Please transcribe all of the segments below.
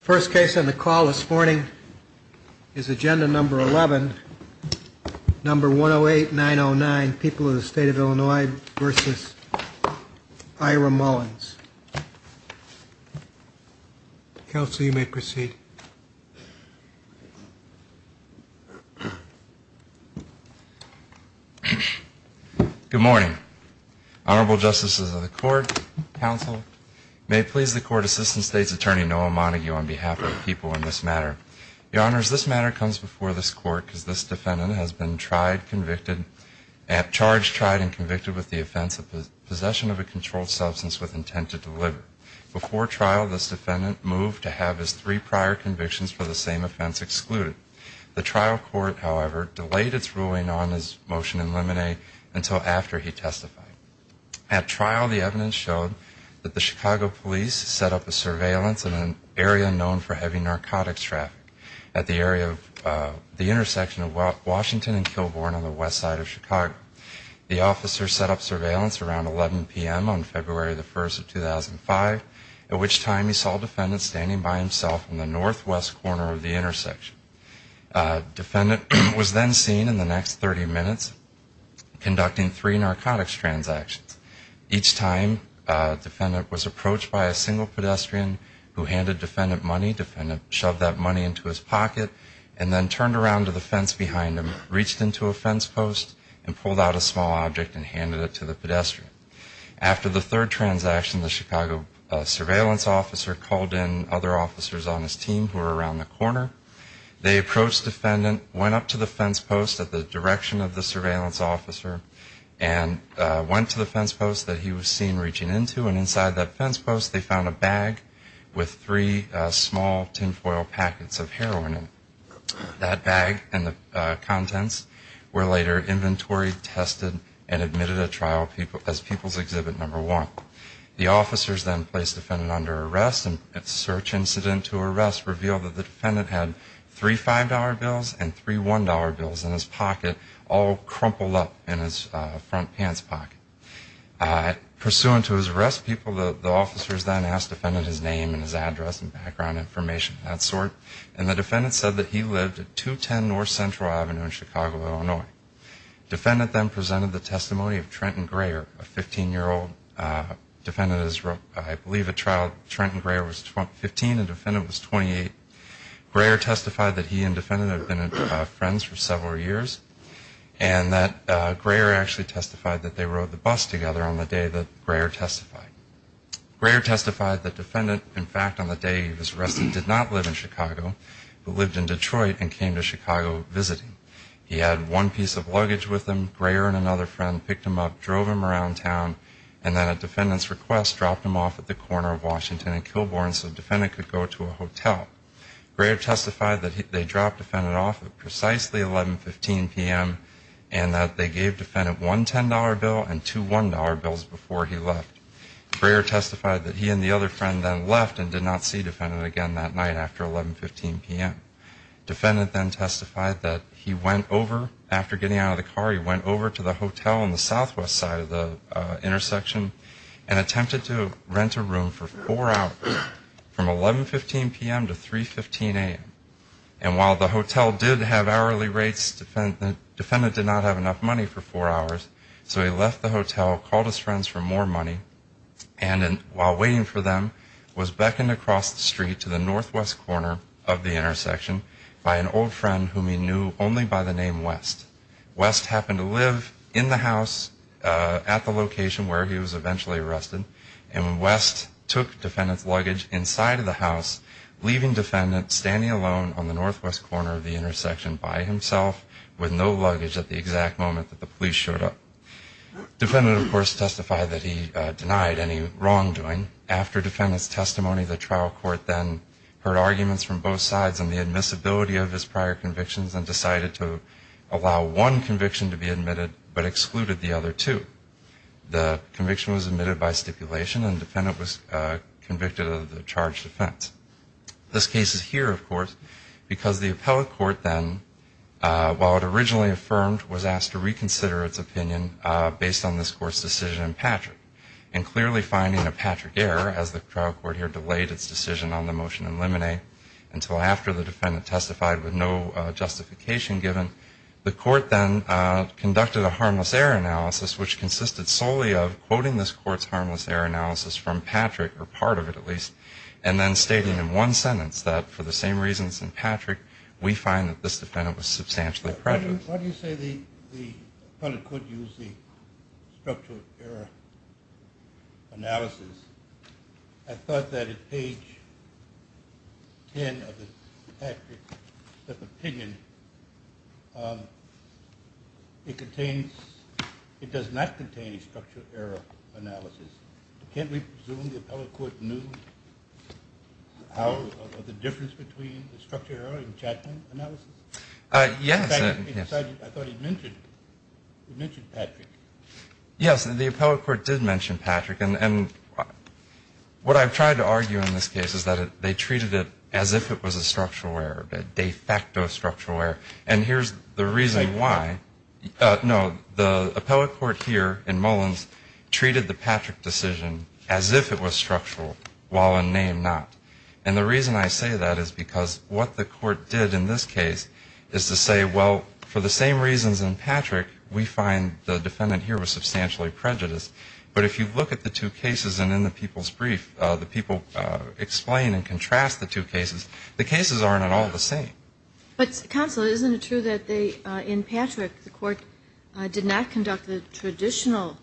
First case on the call this morning is agenda number 11, number 108909, People of the State of Illinois v. Ira Mullins. Counsel, you may proceed. Good morning. Honorable Justices of the Court, Counsel, may it please the Court Assistant State's Attorney Noah Montague on behalf of the people in this matter. Your Honors, this matter comes before this Court because this defendant has been tried, convicted, charged, tried and convicted with the offense of possession of a controlled substance with intent to deliver. Before trial, this defendant moved to have his three prior convictions for the same offense excluded. The trial court, however, delayed its ruling on his motion in limine until after he testified. At trial, the evidence showed that the Chicago police set up a surveillance in an area known for heavy narcotics traffic at the area of the intersection of Washington and Kilbourne on the west side of Chicago. The officer set up surveillance around 11 p.m. on February the 1st of 2005, at which time he saw a defendant standing by himself in the northwest corner of the intersection. The defendant was then seen in the next 30 minutes conducting three narcotics transactions. Each time, the defendant was approached by a single pedestrian who handed defendant money. Defendant shoved that money into his pocket and then turned around to the fence behind him, reached into a fence post and pulled out a small object and handed it to the pedestrian. After the third transaction, the Chicago surveillance officer called in other officers on his team who were around the corner. They approached defendant, went up to the fence post at the direction of the surveillance officer and went to the fence post that he was seen reaching into. Inside that fence post, they found a bag with three small tinfoil packets of heroin in it. That bag and the contents were later inventory tested and admitted at trial as people's exhibit number one. The officers then placed defendant under arrest. A search incident to arrest revealed that the defendant had three $5 bills and three $1 bills in his pocket, all crumpled up in his front pants pocket. Pursuant to his arrest, people, the officers then asked defendant his name and his address and background information of that sort. And the defendant said that he lived at 210 North Central Avenue in Chicago, Illinois. Defendant then presented the testimony of Trenton Greyer, a 15-year-old. Defendant is, I believe, at trial. Trenton Greyer was 15 and defendant was 28. Greyer testified that he and defendant had been friends for several years. And that Greyer actually testified that they rode the bus together on the day that Greyer testified. Greyer testified that defendant, in fact, on the day he was arrested, did not live in Chicago, but lived in Detroit and came to Chicago visiting. He had one piece of luggage with him, Greyer and another friend picked him up, drove him around town, and then at defendant's request, dropped him off at the corner of Washington and Kilbourn so defendant could go to a hotel. Greyer testified that they dropped defendant off at precisely 11.15 p.m. and that they gave defendant one $10 bill and two $1 bills before he left. Greyer testified that he and the other friend then left and did not see defendant again that night after 11.15 p.m. Defendant then testified that he went over, after getting out of the car, he went over to the hotel on the southwest side of the intersection and attempted to rent a room for four hours from 11.15 p.m. to 3.15 a.m. And while the hotel did have hourly rates, defendant did not have enough money for four hours, so he left the hotel, called his friends for more money, and while waiting for them was beckoned across the street to the northwest corner of the intersection by an old friend whom he knew only by the name West. West happened to live in the house at the location where he was eventually arrested and West took defendant's luggage inside of the house, leaving defendant standing alone on the northwest corner of the intersection by himself with no luggage at the exact moment that the police showed up. Defendant, of course, testified that he denied any wrongdoing. After defendant's testimony, the trial court then heard arguments from both sides on the admissibility of his prior convictions and decided to allow one conviction to be admitted but excluded the other two. The conviction was admitted by stipulation and defendant was convicted of the charged offense. This case is here, of course, because the appellate court then, while it originally affirmed, was asked to reconsider its opinion based on this court's decision in Patrick and clearly finding a Patrick error as the trial court here delayed its decision on the motion in limine until after the defendant testified with no justification given. The court then conducted a harmless error analysis, which consisted solely of quoting this court's harmless error analysis from Patrick, or part of it at least, and then stating in one sentence that, for the same reasons in Patrick, we find that this defendant was substantially prejudiced. Why do you say the appellate court used the structural error analysis? I thought that at page 10 of Patrick's opinion, it does not contain a structural error analysis. Can't we presume the appellate court knew of the difference between the structural error and Chapman analysis? Yes. In fact, I thought he mentioned Patrick. Yes, the appellate court did mention Patrick. And what I've tried to argue in this case is that they treated it as if it was a structural error, a de facto structural error. And here's the reason why. No, the appellate court here in Mullins treated the Patrick decision as if it was structural, while in name not. And the reason I say that is because what the court did in this case is to say, well, for the same reasons in Patrick, we find the defendant here was substantially prejudiced. But if you look at the two cases and in the people's brief, the people explain and contrast the two cases, the cases aren't at all the same. But counsel, isn't it true that in Patrick, the court did not conduct the traditional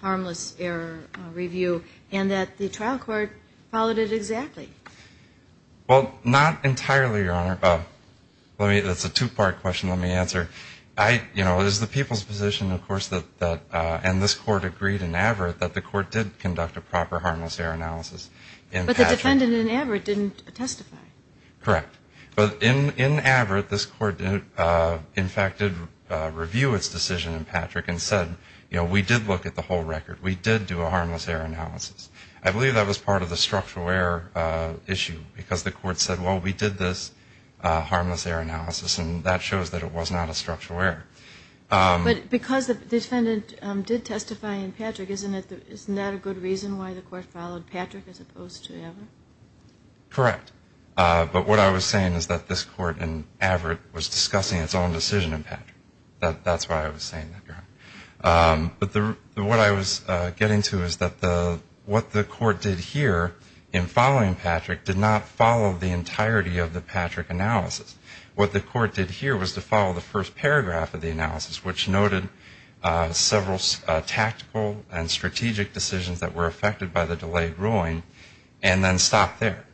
harmless error review, and that the trial court followed it exactly? Well, not entirely, Your Honor. That's a two-part question, let me answer. You know, it is the people's position, of course, and this court agreed in Averitt that the court did conduct a proper harmless error analysis. But the defendant in Averitt didn't testify. Correct. But in Averitt, this court, in fact, did review its decision in Patrick and said, you know, we did look at the whole record. We did do a harmless error analysis. I believe that was part of the structural error issue, because the court said, well, we did this harmless error analysis, and that shows that it was not a structural error. But because the defendant did testify in Patrick, isn't that a good reason why the court followed Patrick as opposed to Averitt? Correct. But what I was saying is that this court in Averitt was discussing its own decision in Patrick. That's why I was saying that, Your Honor. But what I was getting to is that what the court did here in following Patrick did not follow the entirety of the Patrick analysis. What the court did here was to follow the first paragraph of the analysis, which noted several tactical and strategic decisions that were affected by the delayed ruling, and then stopped there,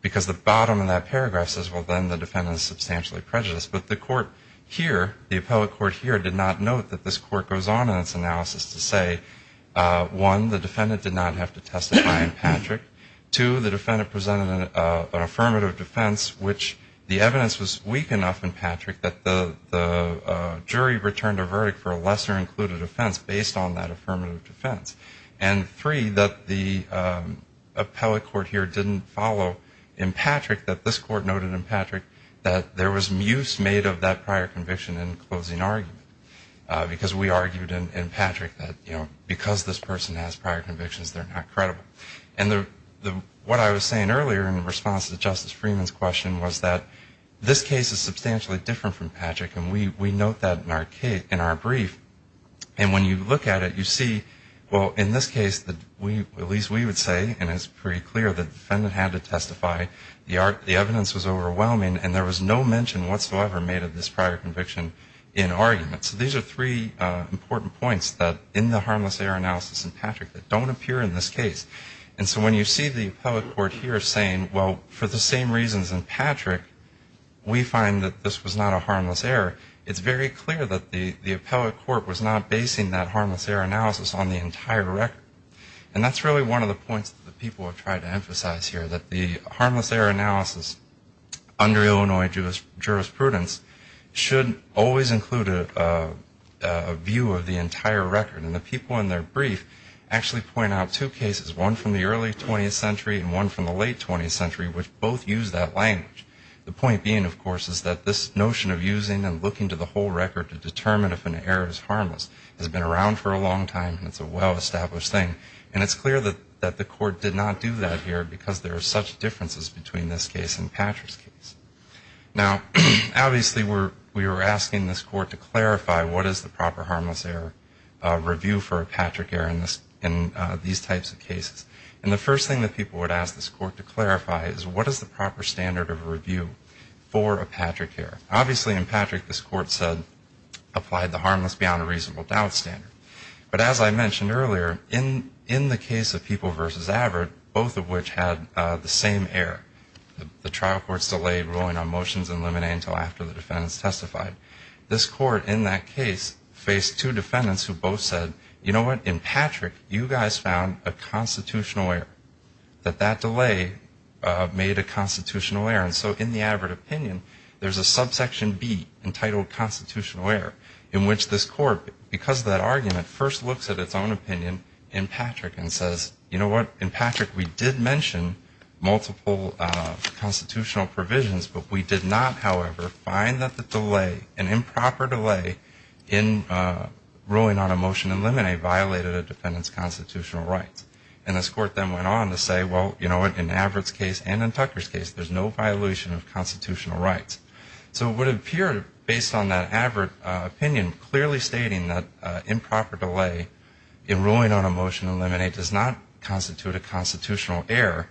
because the bottom of that paragraph says, well, then the defendant is substantially prejudiced. But the court here, the appellate court here, did not note that this court goes on in its analysis to say, one, the defendant did not have to testify in Patrick. Two, the defendant presented an affirmative defense, which the evidence was weak enough in Patrick that the jury returned a verdict for a lesser included offense based on that affirmative defense. And three, that the appellate court here didn't follow in Patrick, that this court noted in Patrick that there was muse made of that prior conviction in closing argument, because we argued in Patrick that, you know, because this person has prior convictions, they're not credible. And what I was saying earlier in response to Justice Freeman's question was that this case is substantially different from Patrick, and we note that in our brief. And when you look at it, you see, well, in this case, at least we would say, and it's pretty clear, that the defendant had to testify. The evidence was overwhelming, and there was no mention whatsoever made of this prior conviction in argument. And so when you see the appellate court here saying, well, for the same reasons in Patrick, we find that this was not a harmless error, it's very clear that the appellate court was not basing that harmless error analysis on the entire record. And that's really one of the points that the people have tried to emphasize here, that the harmless error analysis under Illinois jurisprudence should always include a view of the entire record. And the people in their brief actually point out two cases, one from the early 20th century and one from the late 20th century, which both use that language. The point being, of course, is that this notion of using and looking to the whole record to determine if an error is harmless has been around for a long time, and it's a well-established thing. And it's clear that the court did not do that here, because there are such differences between this case and Patrick's case. Now, obviously, we were asking this court to clarify what is the proper harmless error review for a Patrick error in these types of cases. And the first thing that people would ask this court to clarify is, what is the proper standard of review for a Patrick error? Obviously, in Patrick, this court said, applied the harmless beyond a reasonable doubt standard. But as I mentioned earlier, in the case of People v. Averitt, both of which had the same error, the trial court's delay ruling on motions and limine until after the defendants testified, this court in that case faced two defendants who both said, you know what? In Patrick, you guys found a constitutional error, that that delay made a constitutional error. And so in the Averitt opinion, there's a subsection B entitled constitutional error, in which this court, because of that argument, first looks at its own opinion in Patrick and says, you know what? In Patrick, we did mention multiple constitutional provisions, but we did not, however, find that the delay, an improper delay in ruling on a motion and limine violated a defendant's constitutional rights. And this court then went on to say, well, you know what? In Averitt's case and in Tucker's case, there's no violation of constitutional rights. So it would appear, based on that Averitt opinion, clearly stating that improper delay in ruling on a motion and limine does not constitute a constitutional error,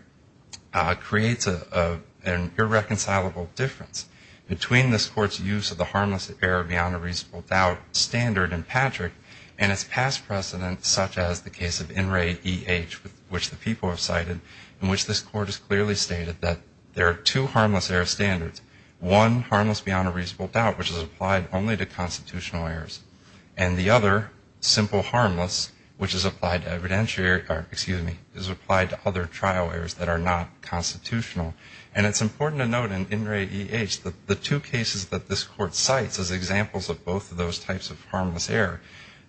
creates an irreconcilable difference between this court's use of the harmless error beyond a reasonable doubt standard in Patrick and its past precedent, such as the case of In Re, E.H., which the people have cited, in which this court has clearly stated that there are two harmless error standards, one harmless beyond a reasonable doubt, which is applied only to constitutional errors, and the other, simple harmless, which is applied to evidentiary, or excuse me, is applied to other trial errors that are not constitutional. And it's important to note in In Re, E.H. that the two cases that this court cites as examples of both of those types of harmless error,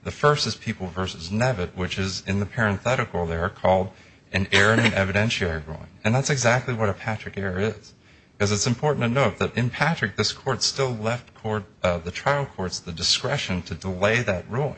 the first is People v. Nevitt, which is, in the parenthetical there, called an error in an evidentiary ruling. And that's exactly what a Patrick error is, because it's important to note that in Patrick, this court still left the trial courts the discretion to delay that ruling.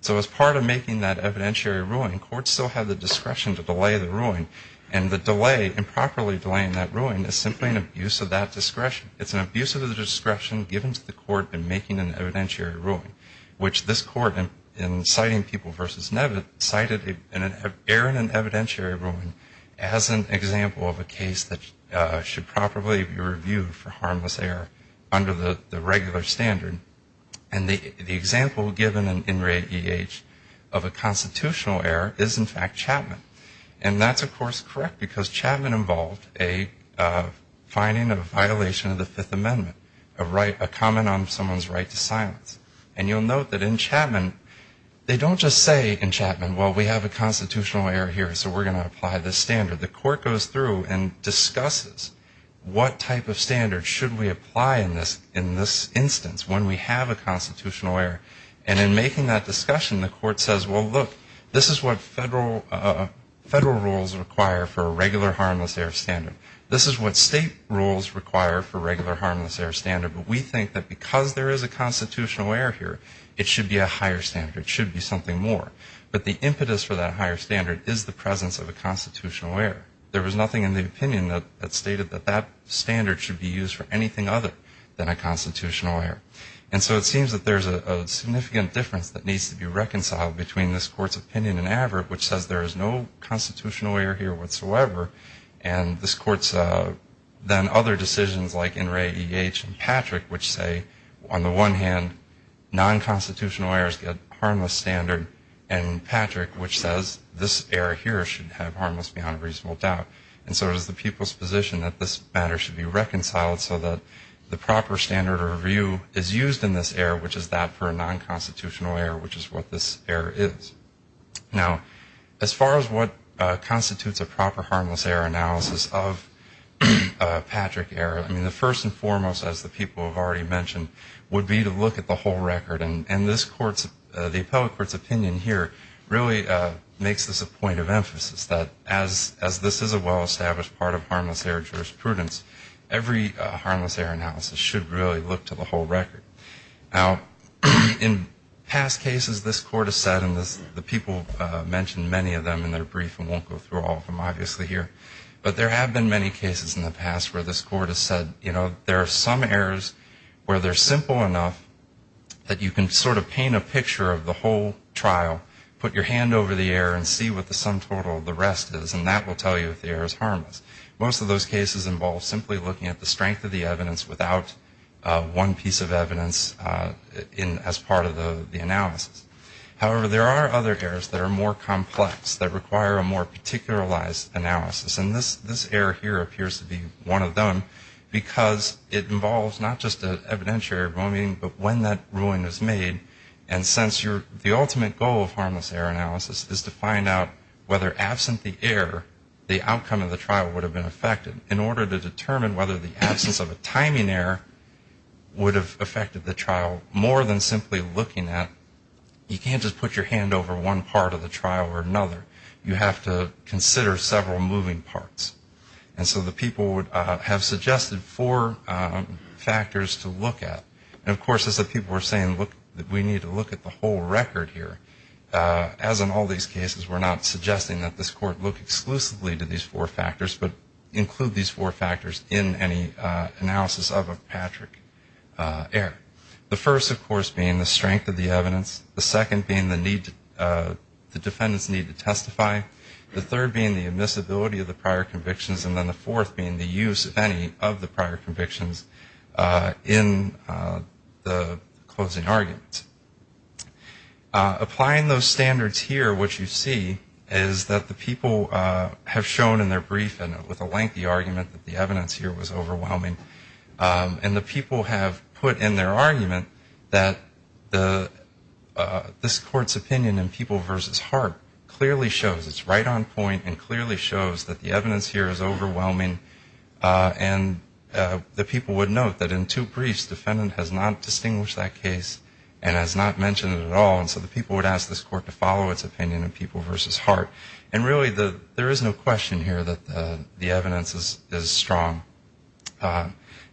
So as part of making that evidentiary ruling, courts still have the discretion to delay the ruling, and the delay, improperly delaying that ruling, is simply an abuse of that discretion. It's an abuse of the discretion given to the court in making an evidentiary ruling, which this court, in citing People v. Nevitt, cited an error in an evidentiary ruling as an example of a case that should properly be reviewed for harmless error under the regular standard. And the example given in Re, E.H. of a constitutional error is, in fact, Chapman. And that's, of course, correct, because Chapman involved a finding of a violation of the Fifth Amendment, a comment on someone's right to silence. And you'll note that in Chapman, they don't just say in Chapman, well, we have a constitutional error here, so we're going to apply this standard. The court goes through and discusses what type of standard should we apply in this instance when we have a constitutional error. And in making that discussion, the court says, well, look, this is what federal rules require for a regular harmless error standard. This is what state rules require for regular harmless error standard. But we think that because there is a constitutional error here, it should be a higher standard. It should be something more. But the impetus for that higher standard is the presence of a constitutional error. There was nothing in the opinion that stated that that standard should be used for anything other than a constitutional error. And so it seems that there's a significant difference that needs to be reconciled between this court's opinion and average, which says there is no constitutional error here whatsoever, and this court's then other decisions like Enray, E.H., and Patrick, which say on the one hand, nonconstitutional errors get harmless standard, and Patrick, which says this error here should have harmless beyond reasonable doubt. And so it is the people's position that this matter should be reconciled so that the proper standard or review is used in this error, which is that for a nonconstitutional error, which is what this error is. Now, as far as what constitutes a proper harmless error analysis of Patrick error, I mean, the first and foremost, as the people have already mentioned, would be to look at the whole record. And the appellate court's opinion here really makes this a point of emphasis, that as this is a well-established part of harmless error jurisprudence, every harmless error analysis should really look to the whole record. Now, in past cases, this court has said, and the people mentioned many of them in their brief and won't go through all of them obviously here, but there have been many cases in the past where this court has said, you know, there are some errors where they're simple enough that you can sort of paint a picture of the whole trial, put your hand over the error and see what the sum total of the rest is, and that will tell you if the error is harmless. Most of those cases involve simply looking at the strength of the evidence without one piece of evidence as part of the analysis. However, there are other errors that are more complex, that require a more particularized analysis. And this error here appears to be one of them because it involves not just an evidentiary ruling, but when that ruling is made, and since the ultimate goal of harmless error analysis is to find out whether absent the error, the outcome of the trial would have been affected. In order to determine whether the absence of a timing error would have affected the trial more than simply looking at, you can't just put your hand over one part of the trial or another. You have to consider several moving parts. And so the people have suggested four factors to look at. And, of course, as the people were saying, look, we need to look at the whole record here. As in all these cases, we're not suggesting that this court look exclusively to these four factors, but include these four factors in any analysis of a Patrick error. The first, of course, being the strength of the evidence. The second being the need, the defendant's need to testify. The third being the admissibility of the prior convictions. And then the fourth being the use, if any, of the prior convictions in the closing argument. Applying those standards here, what you see is that the people have shown in their brief, and with a lengthy argument, that the evidence here was overwhelming. And the people have put in their argument that this court's opinion in People v. Hart clearly shows, it's right on point and clearly shows that the evidence here is overwhelming. And the people would note that in two briefs, the defendant has not distinguished that case and has not mentioned it at all. And so the people would ask this court to follow its opinion in People v. Hart. And really, there is no question here that the evidence is strong.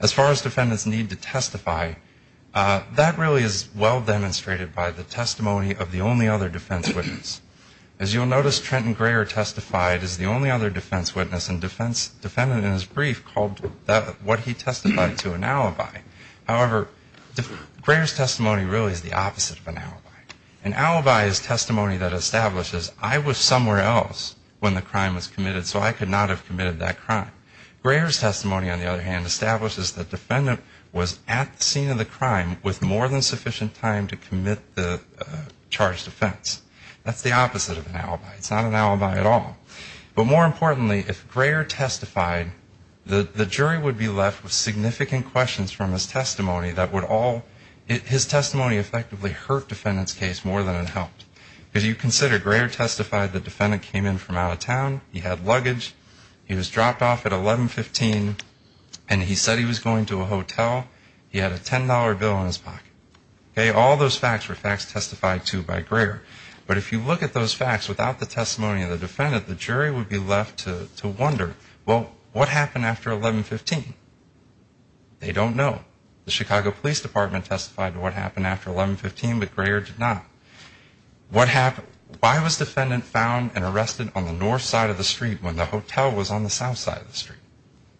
As far as defendants' need to testify, that really is well demonstrated by the testimony of the only other defense witness. As you'll notice, Trenton Greer testified as the only other defense witness, and the defendant in his brief called what he testified to an alibi. However, Greer's testimony really is the opposite of an alibi. An alibi is testimony that establishes I was somewhere else when the crime was committed, so I could not have committed that crime. Greer's testimony, on the other hand, establishes the defendant was at the scene of the crime with more than sufficient time to commit the charged offense. That's the opposite of an alibi. It's not an alibi at all. But more importantly, if Greer testified, the jury would be left with significant questions from his testimony that would all his testimony effectively hurt defendant's case more than it helped. If you consider, Greer testified the defendant came in from out of town, he had luggage, he was dropped off at 1115, and he said he was going to a hotel, he had a $10 bill in his pocket. All those facts were facts testified to by Greer. But if you look at those facts without the testimony of the defendant, the jury would be left to wonder, well, what happened after 1115? They don't know. The Chicago Police Department testified to what happened after 1115, but Greer did not. What happened? Why was defendant found and arrested on the north side of the street when the hotel was on the south side of the street?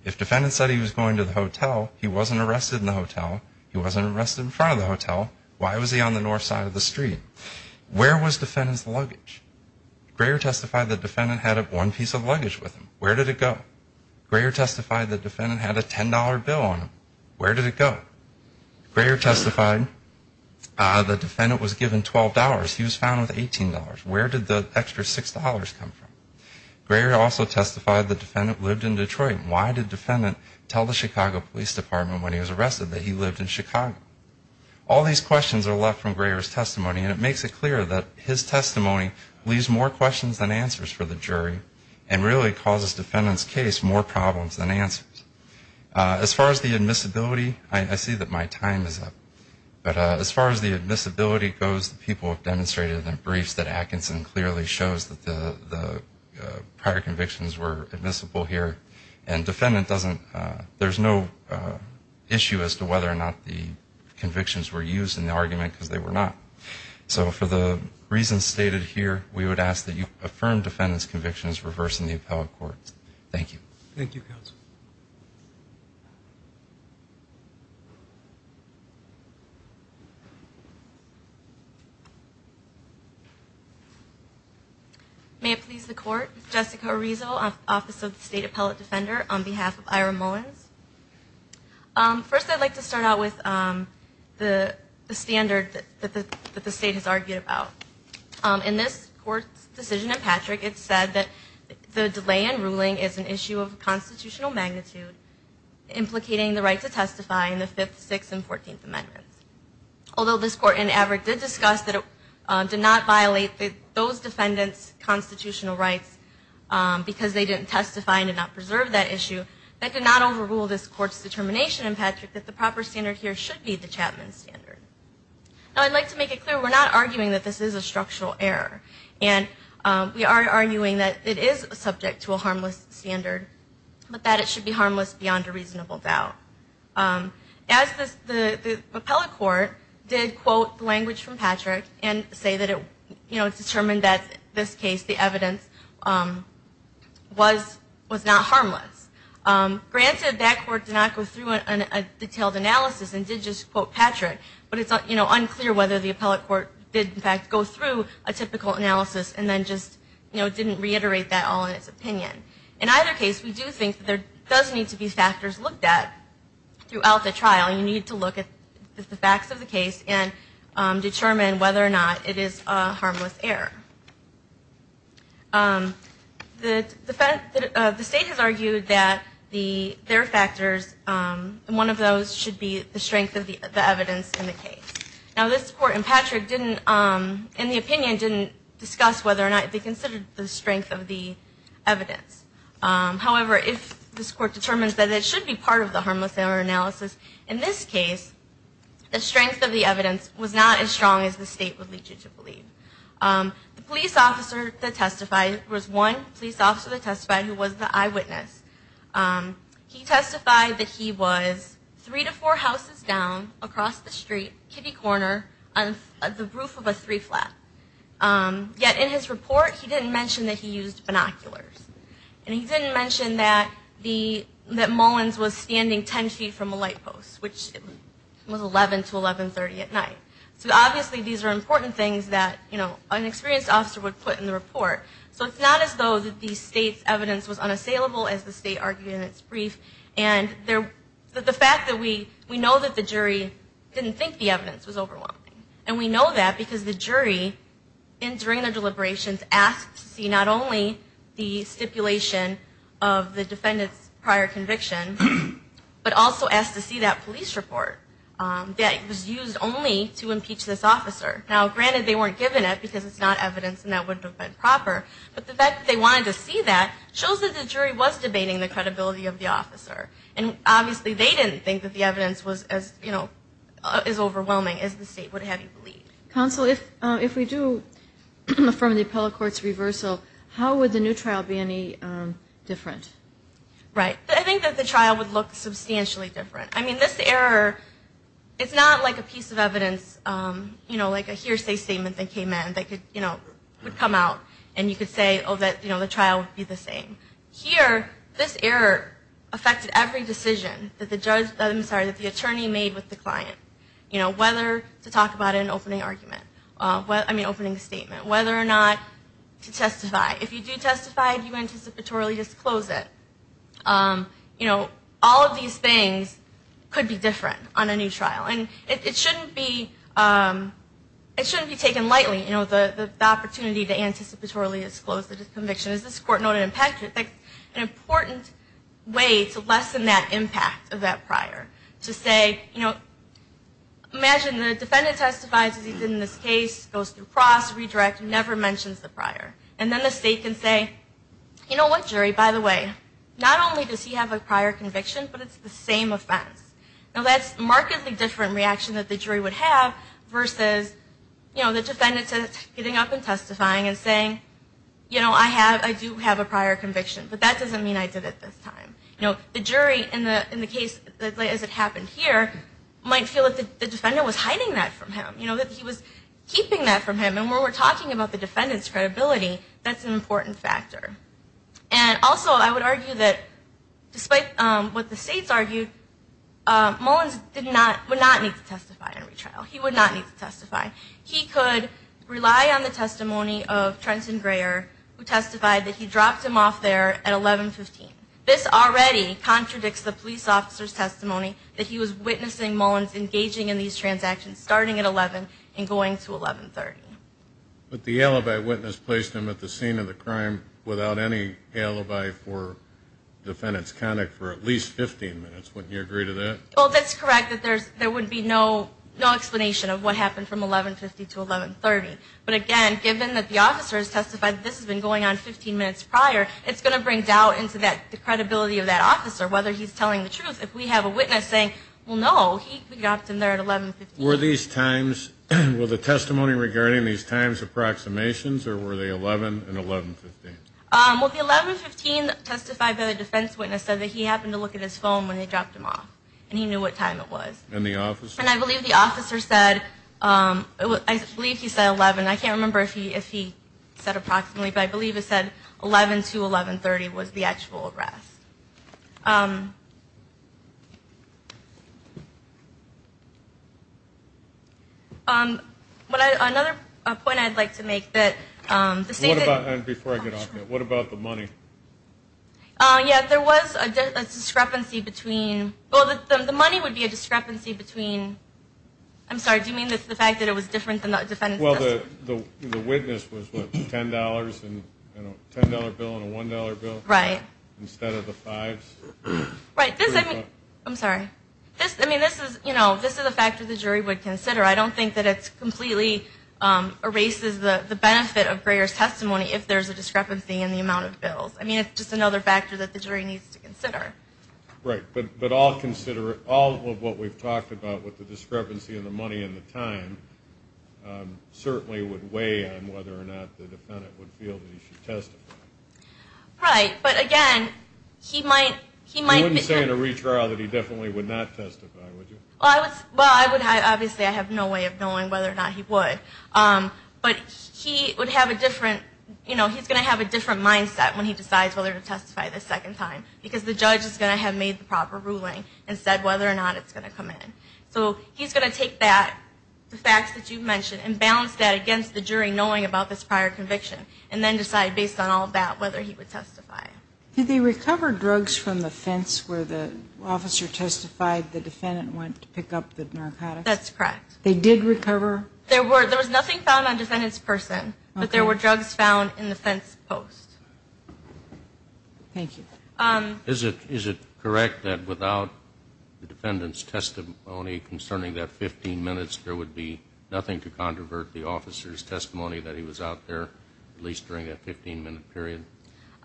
If defendant said he was going to the hotel, he wasn't arrested in the hotel, he wasn't arrested in front of the hotel, why was he on the north side of the street? Where was defendant's luggage? Greer testified the defendant had one piece of luggage with him. Where did the extra $6 come from? Greer also testified the defendant lived in Detroit. Why did defendant tell the Chicago Police Department when he was arrested that he lived in Chicago? All these questions are left from Greer's testimony, and it makes it clear that his testimony leaves more questions than answers for the jury, and really causes defendant's case more problems than answers. As far as the admissibility, I see that my time is up, but as far as the admissibility goes, the people have demonstrated in their briefs that Atkinson clearly shows that the prior convictions were admissible here, and defendant doesn't, there's no issue as to whether or not the convictions were used in the argument because they were not. So for the reasons stated here, we would ask that you affirm defendant's convictions reversing the appellate court. Thank you. May it please the Court. Jessica Arizo, Office of the State Appellate Defender on behalf of Ira Mullins. First I'd like to start out with the standard that the State has argued about. In this Court's decision in Patrick, it said that the delay in ruling is an issue of constitutional magnitude, implicating the right to testify in the Fifth, Sixth, and Fourteenth Amendments. Although this Court in Averitt did discuss that it did not violate those defendants' constitutional rights because they didn't testify and did not preserve that issue, that did not overrule this Court's determination in Patrick that the proper standard here should be the Chapman standard. Now I'd like to make it clear we're not arguing that this is a structural error. And we are arguing that it is subject to a harmless standard, but that it should be harmless beyond a reasonable doubt. As the appellate court did quote the language from Patrick and say that it, you know, determined that in this case the evidence was not harmless. Granted that court did not go through a detailed analysis and did just quote Patrick, but it's, you know, unclear whether the appellate court did in fact go through a typical analysis and then just, you know, didn't reiterate that all in its opinion. In either case, we do think that there does need to be factors looked at throughout the trial. You need to look at the facts of the case and determine whether or not it is a harmless error. The state has argued that their factors, one of those should be the strength of the evidence in the case. Now this Court in Patrick didn't, in the opinion, didn't discuss whether or not they considered the strength of the evidence. However, if this Court determines that it should be part of the harmless error analysis, in this case the strength of the evidence should be part of the harmless error analysis. Now, the police officer that testified was one police officer that testified who was the eyewitness. He testified that he was three to four houses down across the street, kiddie corner, on the roof of a three-flat. Yet in his report he didn't mention that he used binoculars. And he didn't mention that the, that Mullins was standing ten feet from a light post, which was 11 to 1130 at night. So obviously these are important things that, you know, an experienced officer would put in the report. So it's not as though that the state's evidence was unassailable as the state argued in its brief. And the fact that we, we know that the jury didn't think the evidence was overwhelming. And we know that because the jury, during the deliberations, asked to see not only the evidence, the stipulation of the defendant's prior conviction, but also asked to see that police report that was used only to impeach this officer. Now, granted, they weren't given it because it's not evidence and that wouldn't have been proper. But the fact that they wanted to see that shows that the jury was debating the credibility of the officer. And obviously they didn't think that the evidence was as, you know, is overwhelming as the state would have you believe. Counsel, if, if we do affirm the appellate court's reversal, how would the new trial be any different? Right. I think that the trial would look substantially different. I mean, this error, it's not like a piece of evidence, you know, like a hearsay statement that came in that could, you know, would come out and you could say, oh, that, you know, the trial would be the same. Here, this error affected every decision that the judge, I'm sorry, that the attorney made with the client. You know, whether to talk about an opening argument, I mean, opening statement, whether or not to testify. If you do testify, do you anticipatorily disclose it? You know, all of these things could be different on a new trial. And it shouldn't be, it shouldn't be taken lightly. You know, the opportunity to anticipatorily disclose the conviction. Is this court known to impact it? An important way to lessen that impact of that prior. To say, you know, imagine the defendant testifies as he did in this case, goes through cross, redirect, never mentions the prior. And then the state can say, you know what, jury, by the way, not only does he have a prior conviction, but it's the same offense. Now, that's a markedly different reaction that the jury would have versus, you know, the defendant's getting up and testifying and saying, you know, I have, I do have a prior conviction. But that doesn't mean I did it this time. You know, the jury in the case, as it happened here, might feel that the defendant was hiding that from him. You know, that he was keeping that from him. And when we're talking about the defendant's credibility, that's an important factor. And also, I would argue that despite what the states argued, Mullins did not, would not need to testify in retrial. He would not need to testify. He could rely on the testimony of Trenton Greyer, who testified that he dropped him off there at 1115. This already contradicts the police officer's testimony that he was witnessing Mullins engaging in these transactions starting at 11 and going to 1130. But the alibi witness placed him at the scene of the crime without any alibi for defendant's conduct for at least 15 minutes. Wouldn't you agree to that? Well, that's correct, that there would be no explanation of what happened from 1150 to 1130. But again, given that the officer has testified that this has been going on 15 minutes prior, it's going to bring doubt into the credibility of that officer, whether he's telling the truth. If we have a witness saying, well, no, he dropped him there at 1115. Were these times, were the testimony regarding these times approximations, or were they 11 and 1115? Well, the 1115 testified that a defense witness said that he happened to look at his phone when they dropped him off. And he knew what time it was. And the officer? And I believe the officer said, I believe he said 11, I can't remember if he said approximately, but I believe he said 11 to 1130 was the actual arrest. Another point I'd like to make that the state. What about, before I get off here, what about the money? Yeah, there was a discrepancy between, well, the money would be a discrepancy between, I'm sorry, do you mean the fact that it was different than the defendant's testimony? Well, the witness was, what, $10 in a $10 bill and a $1 bill? Right. Instead of the fives. I'm sorry. I mean, this is, you know, this is a factor the jury would consider. I don't think that it completely erases the benefit of Grayer's testimony if there's a discrepancy in the amount of bills. I mean, it's just another factor that the jury needs to consider. Right. But all of what we've talked about with the discrepancy in the money and the time certainly would weigh on whether or not the defendant would feel that he should testify. Right. But again, he might. You wouldn't say in a retrial that he definitely would not testify, would you? Well, I would, obviously I have no way of knowing whether or not he would. But he would have a different, you know, he's going to have a different mindset when he decides whether to testify the second time, because the judge is going to have made the proper ruling and said whether or not it's going to come in. So he's going to take that, the facts that you've mentioned, and balance that against the jury knowing about this prior conviction, and then decide based on all of that whether he would testify. Did they recover drugs from the fence where the officer testified the defendant went to pick up the narcotics? That's correct. They did recover? There was nothing found on the defendant's person, but there were drugs found in the fence post. Thank you. Is it correct that without the defendant's testimony concerning that 15 minutes, there would be nothing to controvert the officer's testimony that he was out there, at least during that 15-minute period?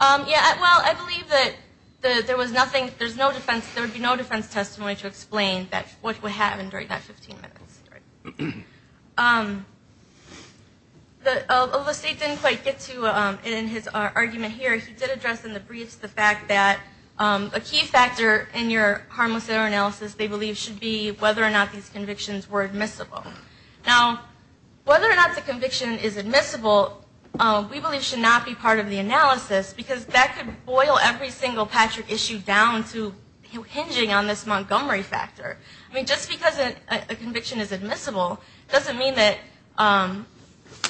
Yeah, well, I believe that there was nothing, there's no defense, there would be no defense testimony to explain what would happen during that 15 minutes. The state didn't quite get to it in his argument here. He did address in the briefs the fact that a key factor in your harmless error analysis, they believe, should be whether or not these convictions were admissible. Now, whether or not the conviction is admissible, we believe should not be part of the analysis, because that could boil every single Patrick issue down to hinging on this Montgomery factor. I mean, just because a conviction is admissible doesn't mean that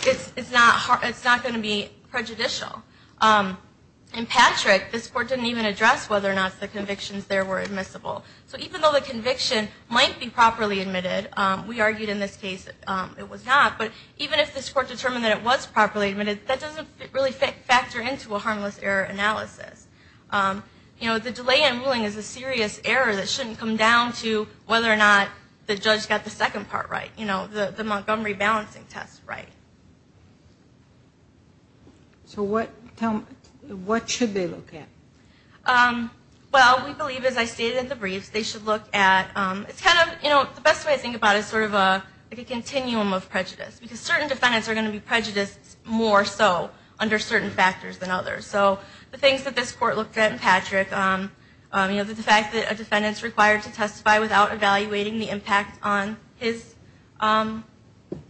it's not going to be prejudicial. In Patrick, this court didn't even address whether or not the convictions there were admissible. So even though the conviction might be properly admitted, we argued in this case it was not, but even if this court determined that it was properly admitted, that doesn't really factor into a harmless error analysis. You know, the delay in ruling is a serious error that shouldn't come down to whether or not the judge got the second part right, you know, the Montgomery balancing test right. So what should they look at? Well, we believe, as I stated in the briefs, they should look at, it's kind of, you know, the best way I think about it is sort of a continuum of prejudice, because certain defendants are going to be prejudiced more so under certain factors than others. So the things that this court looked at in Patrick, you know, the fact that a defendant's required to testify without evaluating the impact on his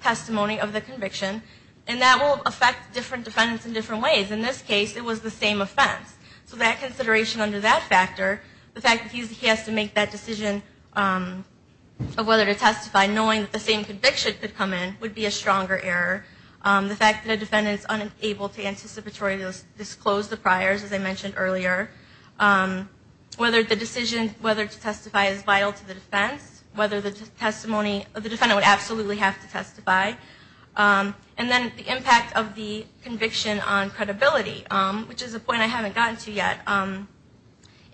testimony of the conviction, and that will affect different defendants in different ways. In this case, it was the same offense. So that consideration under that factor, the fact that he has to make that decision of whether to testify, knowing that the same conviction could come in, would be a stronger error. The fact that a defendant is unable to anticipatorily disclose the priors, as I mentioned earlier. Whether the decision, whether to testify is vital to the defense, whether the testimony of the defendant would absolutely have to testify. And then the impact of the conviction on credibility, which is a point I haven't gotten to yet.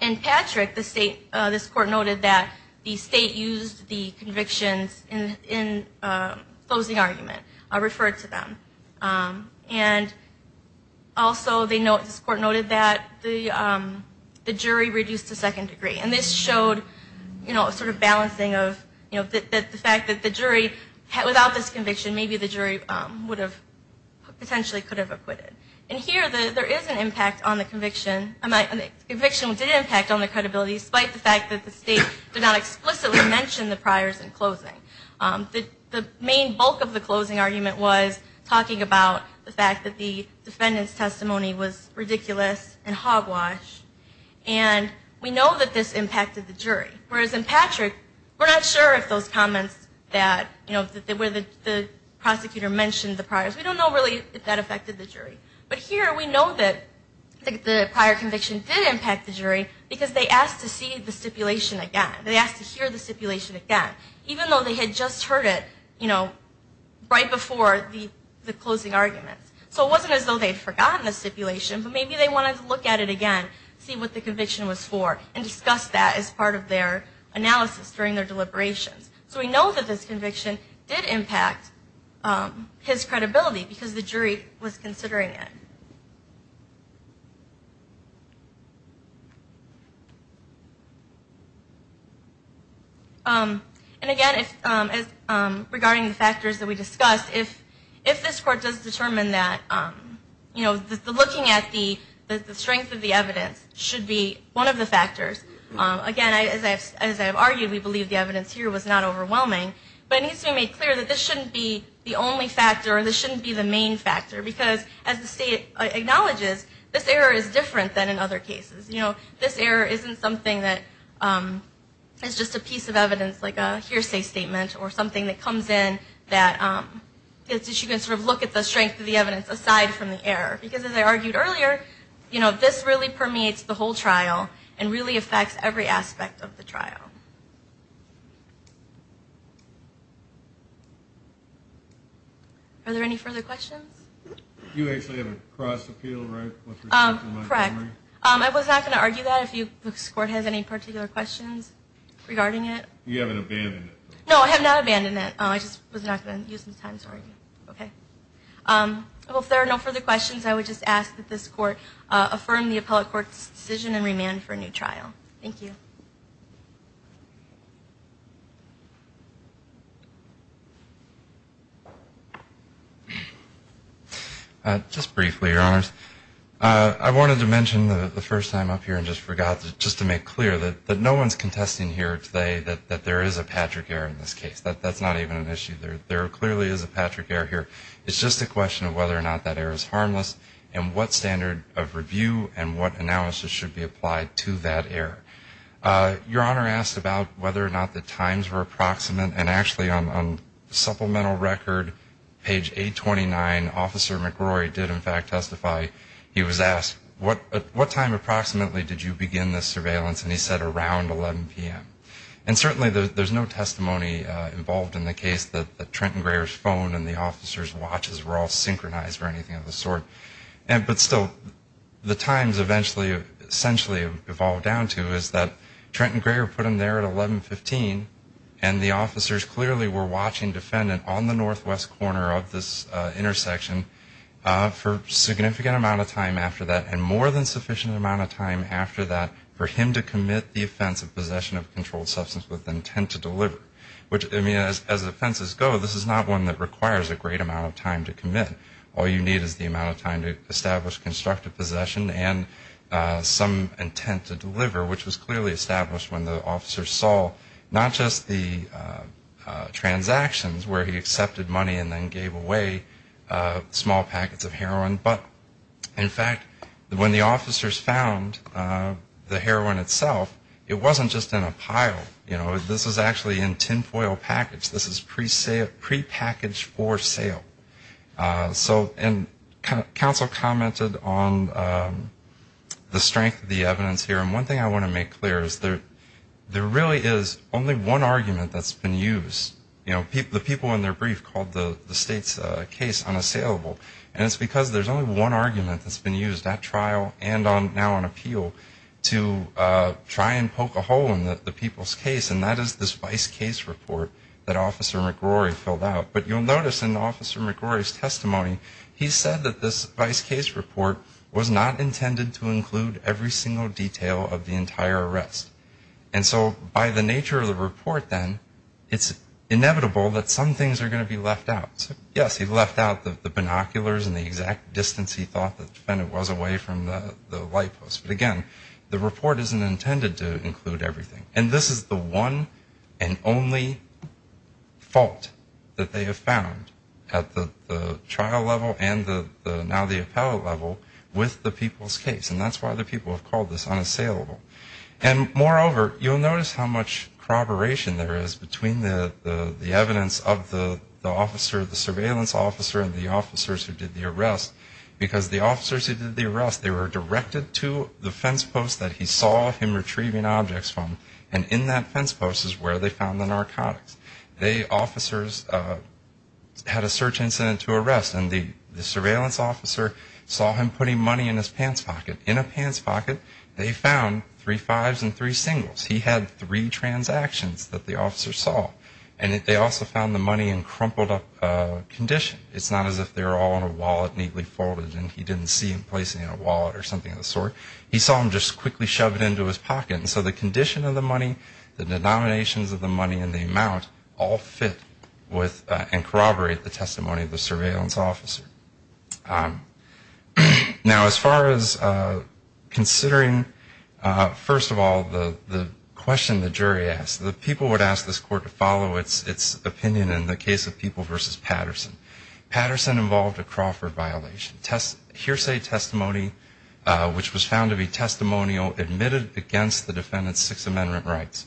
In Patrick, this court noted that the state used the convictions in closing argument, referred to them. And also, this court noted that the jury reduced to second degree. And this showed a sort of balancing of the fact that the jury, without this conviction, maybe the jury potentially could have acquitted. And here, there is an impact on the conviction. The conviction did impact on the credibility, despite the fact that the state did not explicitly mention the priors in closing. The main bulk of the closing argument was talking about the fact that the defendant's testimony was ridiculous and hogwash, and we know that this impacted the jury. Whereas in Patrick, we're not sure if those comments that, you know, where the prosecutor mentioned the priors, we don't know really if that affected the jury. But here, we know that the prior conviction did impact the jury, because they asked to see the stipulation again. They asked to hear the stipulation again, even though they had just heard it, you know, right before the closing argument. So it wasn't as though they had forgotten the stipulation, but maybe they wanted to look at it again, see what the conviction was for, and discuss that as part of their analysis during their deliberations. So we know that this conviction did impact his credibility, because the jury was considering it. And again, regarding the factors that we discussed, if this Court does determine that, you know, looking at the strength of the evidence should be one of the factors, again, as I've argued, we believe the evidence here was not overwhelming, but it needs to be made clear that this shouldn't be the only factor, or this shouldn't be the main factor, because as the state acknowledges, this error is different than in other cases. You know, this error isn't something that is just a piece of evidence like a hearsay statement or something that comes in that you can sort of look at the strength of the evidence aside from the error. Because as I argued earlier, you know, this really permeates the whole trial and really affects every aspect of the trial. Are there any further questions? You actually have a cross appeal, right? Correct. I was not going to argue that if this Court has any particular questions regarding it. You haven't abandoned it. No, I have not abandoned it. I just was not going to use this time to argue. If there are no further questions, I would just ask that this Court affirm the appellate court's decision and remand for a new trial. Thank you. Just briefly, Your Honors, I wanted to mention the first time up here, and just forgot, just to make clear that no one is contesting here today that there is a Patrick error in this case. That's not even an issue. There clearly is a Patrick error here. It's just a question of whether or not that error is harmless and what standard of review and what analysis should be applied to that error. Your Honor asked about whether or not the times were approximate, and actually on supplemental record, page 829, Officer McGrory did in fact testify. He was asked, what time approximately did you begin this surveillance? And he said around 11 p.m. And certainly there's no testimony involved in the case that Trenton Greer's phone and the officer's watches were all synchronized or anything of the sort. But still, the times eventually essentially have evolved down to is that Trenton Greer put him there at 1115, and the officers clearly were watching defendant on the northwest corner of this intersection for a significant amount of time after that, and more than sufficient amount of time after that for him to commit the offense of possession of a controlled substance with intent to deliver. I mean, as offenses go, this is not one that requires a great amount of time to commit. All you need is the amount of time to establish constructive possession and some intent to deliver, which was clearly established when the officers saw not just the transactions where he accepted money and then gave away small packets of heroin, but in fact when the officers found the heroin itself, it wasn't just in a pile. You know, this was actually in tin foil package. This is prepackaged for sale. And counsel commented on the strength of the evidence here, and one thing I want to make clear is there really is only one argument that's been used. You know, the people in their brief called the state's case unassailable, and it's because there's only one argument that's been used at trial and now on appeal to try and poke a hole in the people's case, and that is this vice case report that Officer McGrory filled out. But you'll notice in Officer McGrory's testimony, he said that this vice case report was not intended to include every single detail of the entire arrest. And so by the nature of the report then, it's inevitable that some things are going to be left out. Yes, he left out the binoculars and the exact distance he thought the defendant was away from the light post, but again, the report isn't intended to include everything, and this is the one and only fault that they have found at the trial level and now the appellate level with the people's case, and that's why the people have called this unassailable. And moreover, you'll notice how much corroboration there is between the evidence of the officer, the surveillance officer and the officers who did the arrest, because the officers who did the arrest, they were directed to the fence post that he saw him retrieving objects from, and in that fence post is where they found the narcotics. The officers had a search incident to arrest, and the surveillance officer saw him putting money in his pants pocket. In a pants pocket, they found three fives and three singles. He had three transactions that the officers saw, and they also found the money in crumpled up condition. It's not as if they were all in a wallet neatly folded and he didn't see him placing it in a wallet or something of the sort. He saw him just quickly shove it into his pocket, and so the condition of the money, the denominations of the money and the amount all fit with and corroborate the testimony of the surveillance officer. Now, as far as considering, first of all, the question the jury asked, the people would ask this court to follow its opinion in the case of People v. Patterson. Patterson involved a Crawford violation, hearsay testimony, which was found to be testimonial admitted against the defendant's Sixth Amendment rights.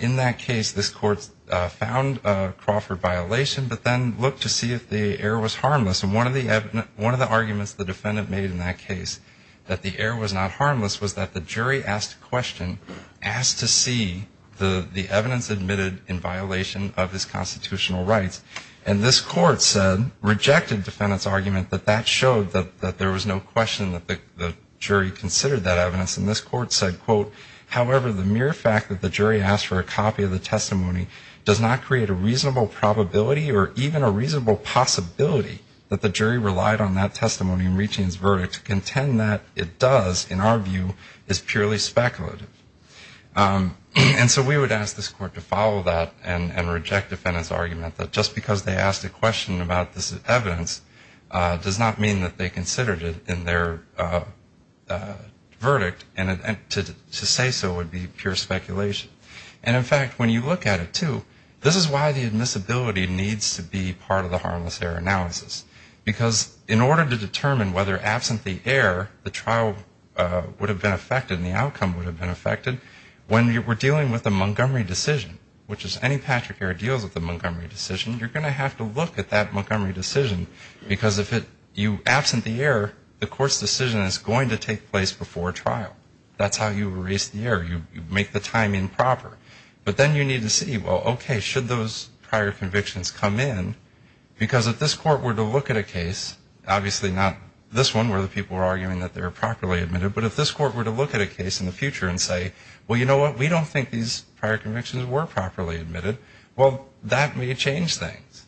In that case, this court found a Crawford violation, but then looked to see if the error was harmless, and one of the arguments the defendant made in that case, that the error was not harmless, was that the jury asked a question, asked to see the evidence admitted in violation of his constitutional rights, and this court said, rejected defendant's argument that that showed that there was no question that the jury considered that evidence, and this court said, quote, however, the mere fact that the jury asked for a copy of the testimony does not create a reasonable probability or even a reasonable possibility that the jury relied on that testimony in reaching its verdict to contend that it does, in our view, is purely speculative. And so we would ask this court to follow that and reject defendant's argument that just because they asked a question about this evidence does not mean that they considered it in their verdict, and to say so would be pure speculation. And, in fact, when you look at it, too, this is why the admissibility needs to be part of the harmless error analysis, because in order to determine whether, absent the error, the trial would have been affected and the outcome would have been affected, when we're dealing with a Montgomery decision, which is any Patrick error deals with a Montgomery decision, you're going to have to look at that Montgomery decision, because if you absent the error, the court's decision is going to take place before trial. That's how you erase the error. You make the timing proper. But then you need to see, well, okay, should those prior convictions come in, because if this court were to look at a case, obviously not this one where the people were arguing that they were properly admitted, but if this court were to look at a case in the future and say, well, you know what, we don't think these prior convictions were properly admitted, well, that may change things.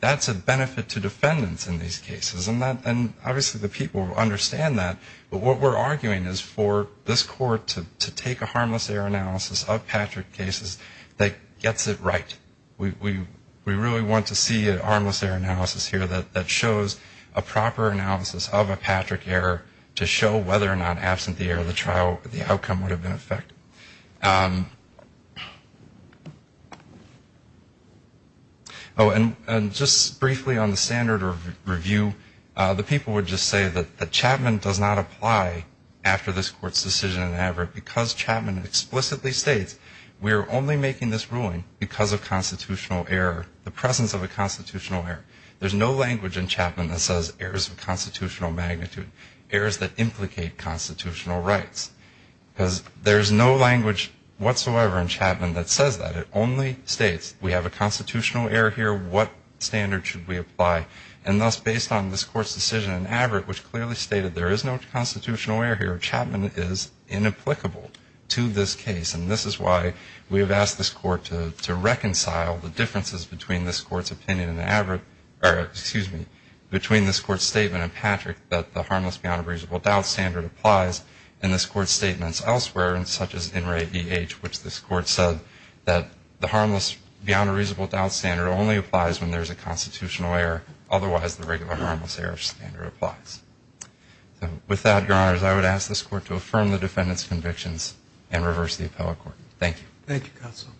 That's a benefit to defendants in these cases, and obviously the people understand that, but what we're arguing is for this court to take a harmless error analysis of Patrick cases that gets it right. We really want to see a harmless error analysis here that shows a proper analysis of a Patrick error to show whether or not, absent the error, the outcome would have been effective. Oh, and just briefly on the standard review, the people would just say that Chapman does not apply after this court's decision in average, because Chapman explicitly states we're only making this ruling because of constitutional error, the presence of a constitutional error. There's no language in Chapman that says errors of constitutional magnitude, errors that implicate constitutional rights, because there's no language whatsoever in Chapman that says that. It only states we have a constitutional error here, what standard should we apply, and thus based on this court's decision in average, which clearly stated there is no constitutional error here, Chapman is inapplicable to this case, and this is why we have asked this court to reconcile the differences between this court's opinion in average, or excuse me, between this court's statement in Patrick that the harmless beyond a reasonable doubt standard applies, and this court's statements elsewhere, such as in re E.H., which this court said that the harmless beyond a reasonable doubt standard only applies when there's a constitutional error, otherwise the regular harmless error standard applies. So with that, Your Honors, I would ask this court to affirm the defendant's convictions and reverse the appellate court. Thank you. Thank you, counsel.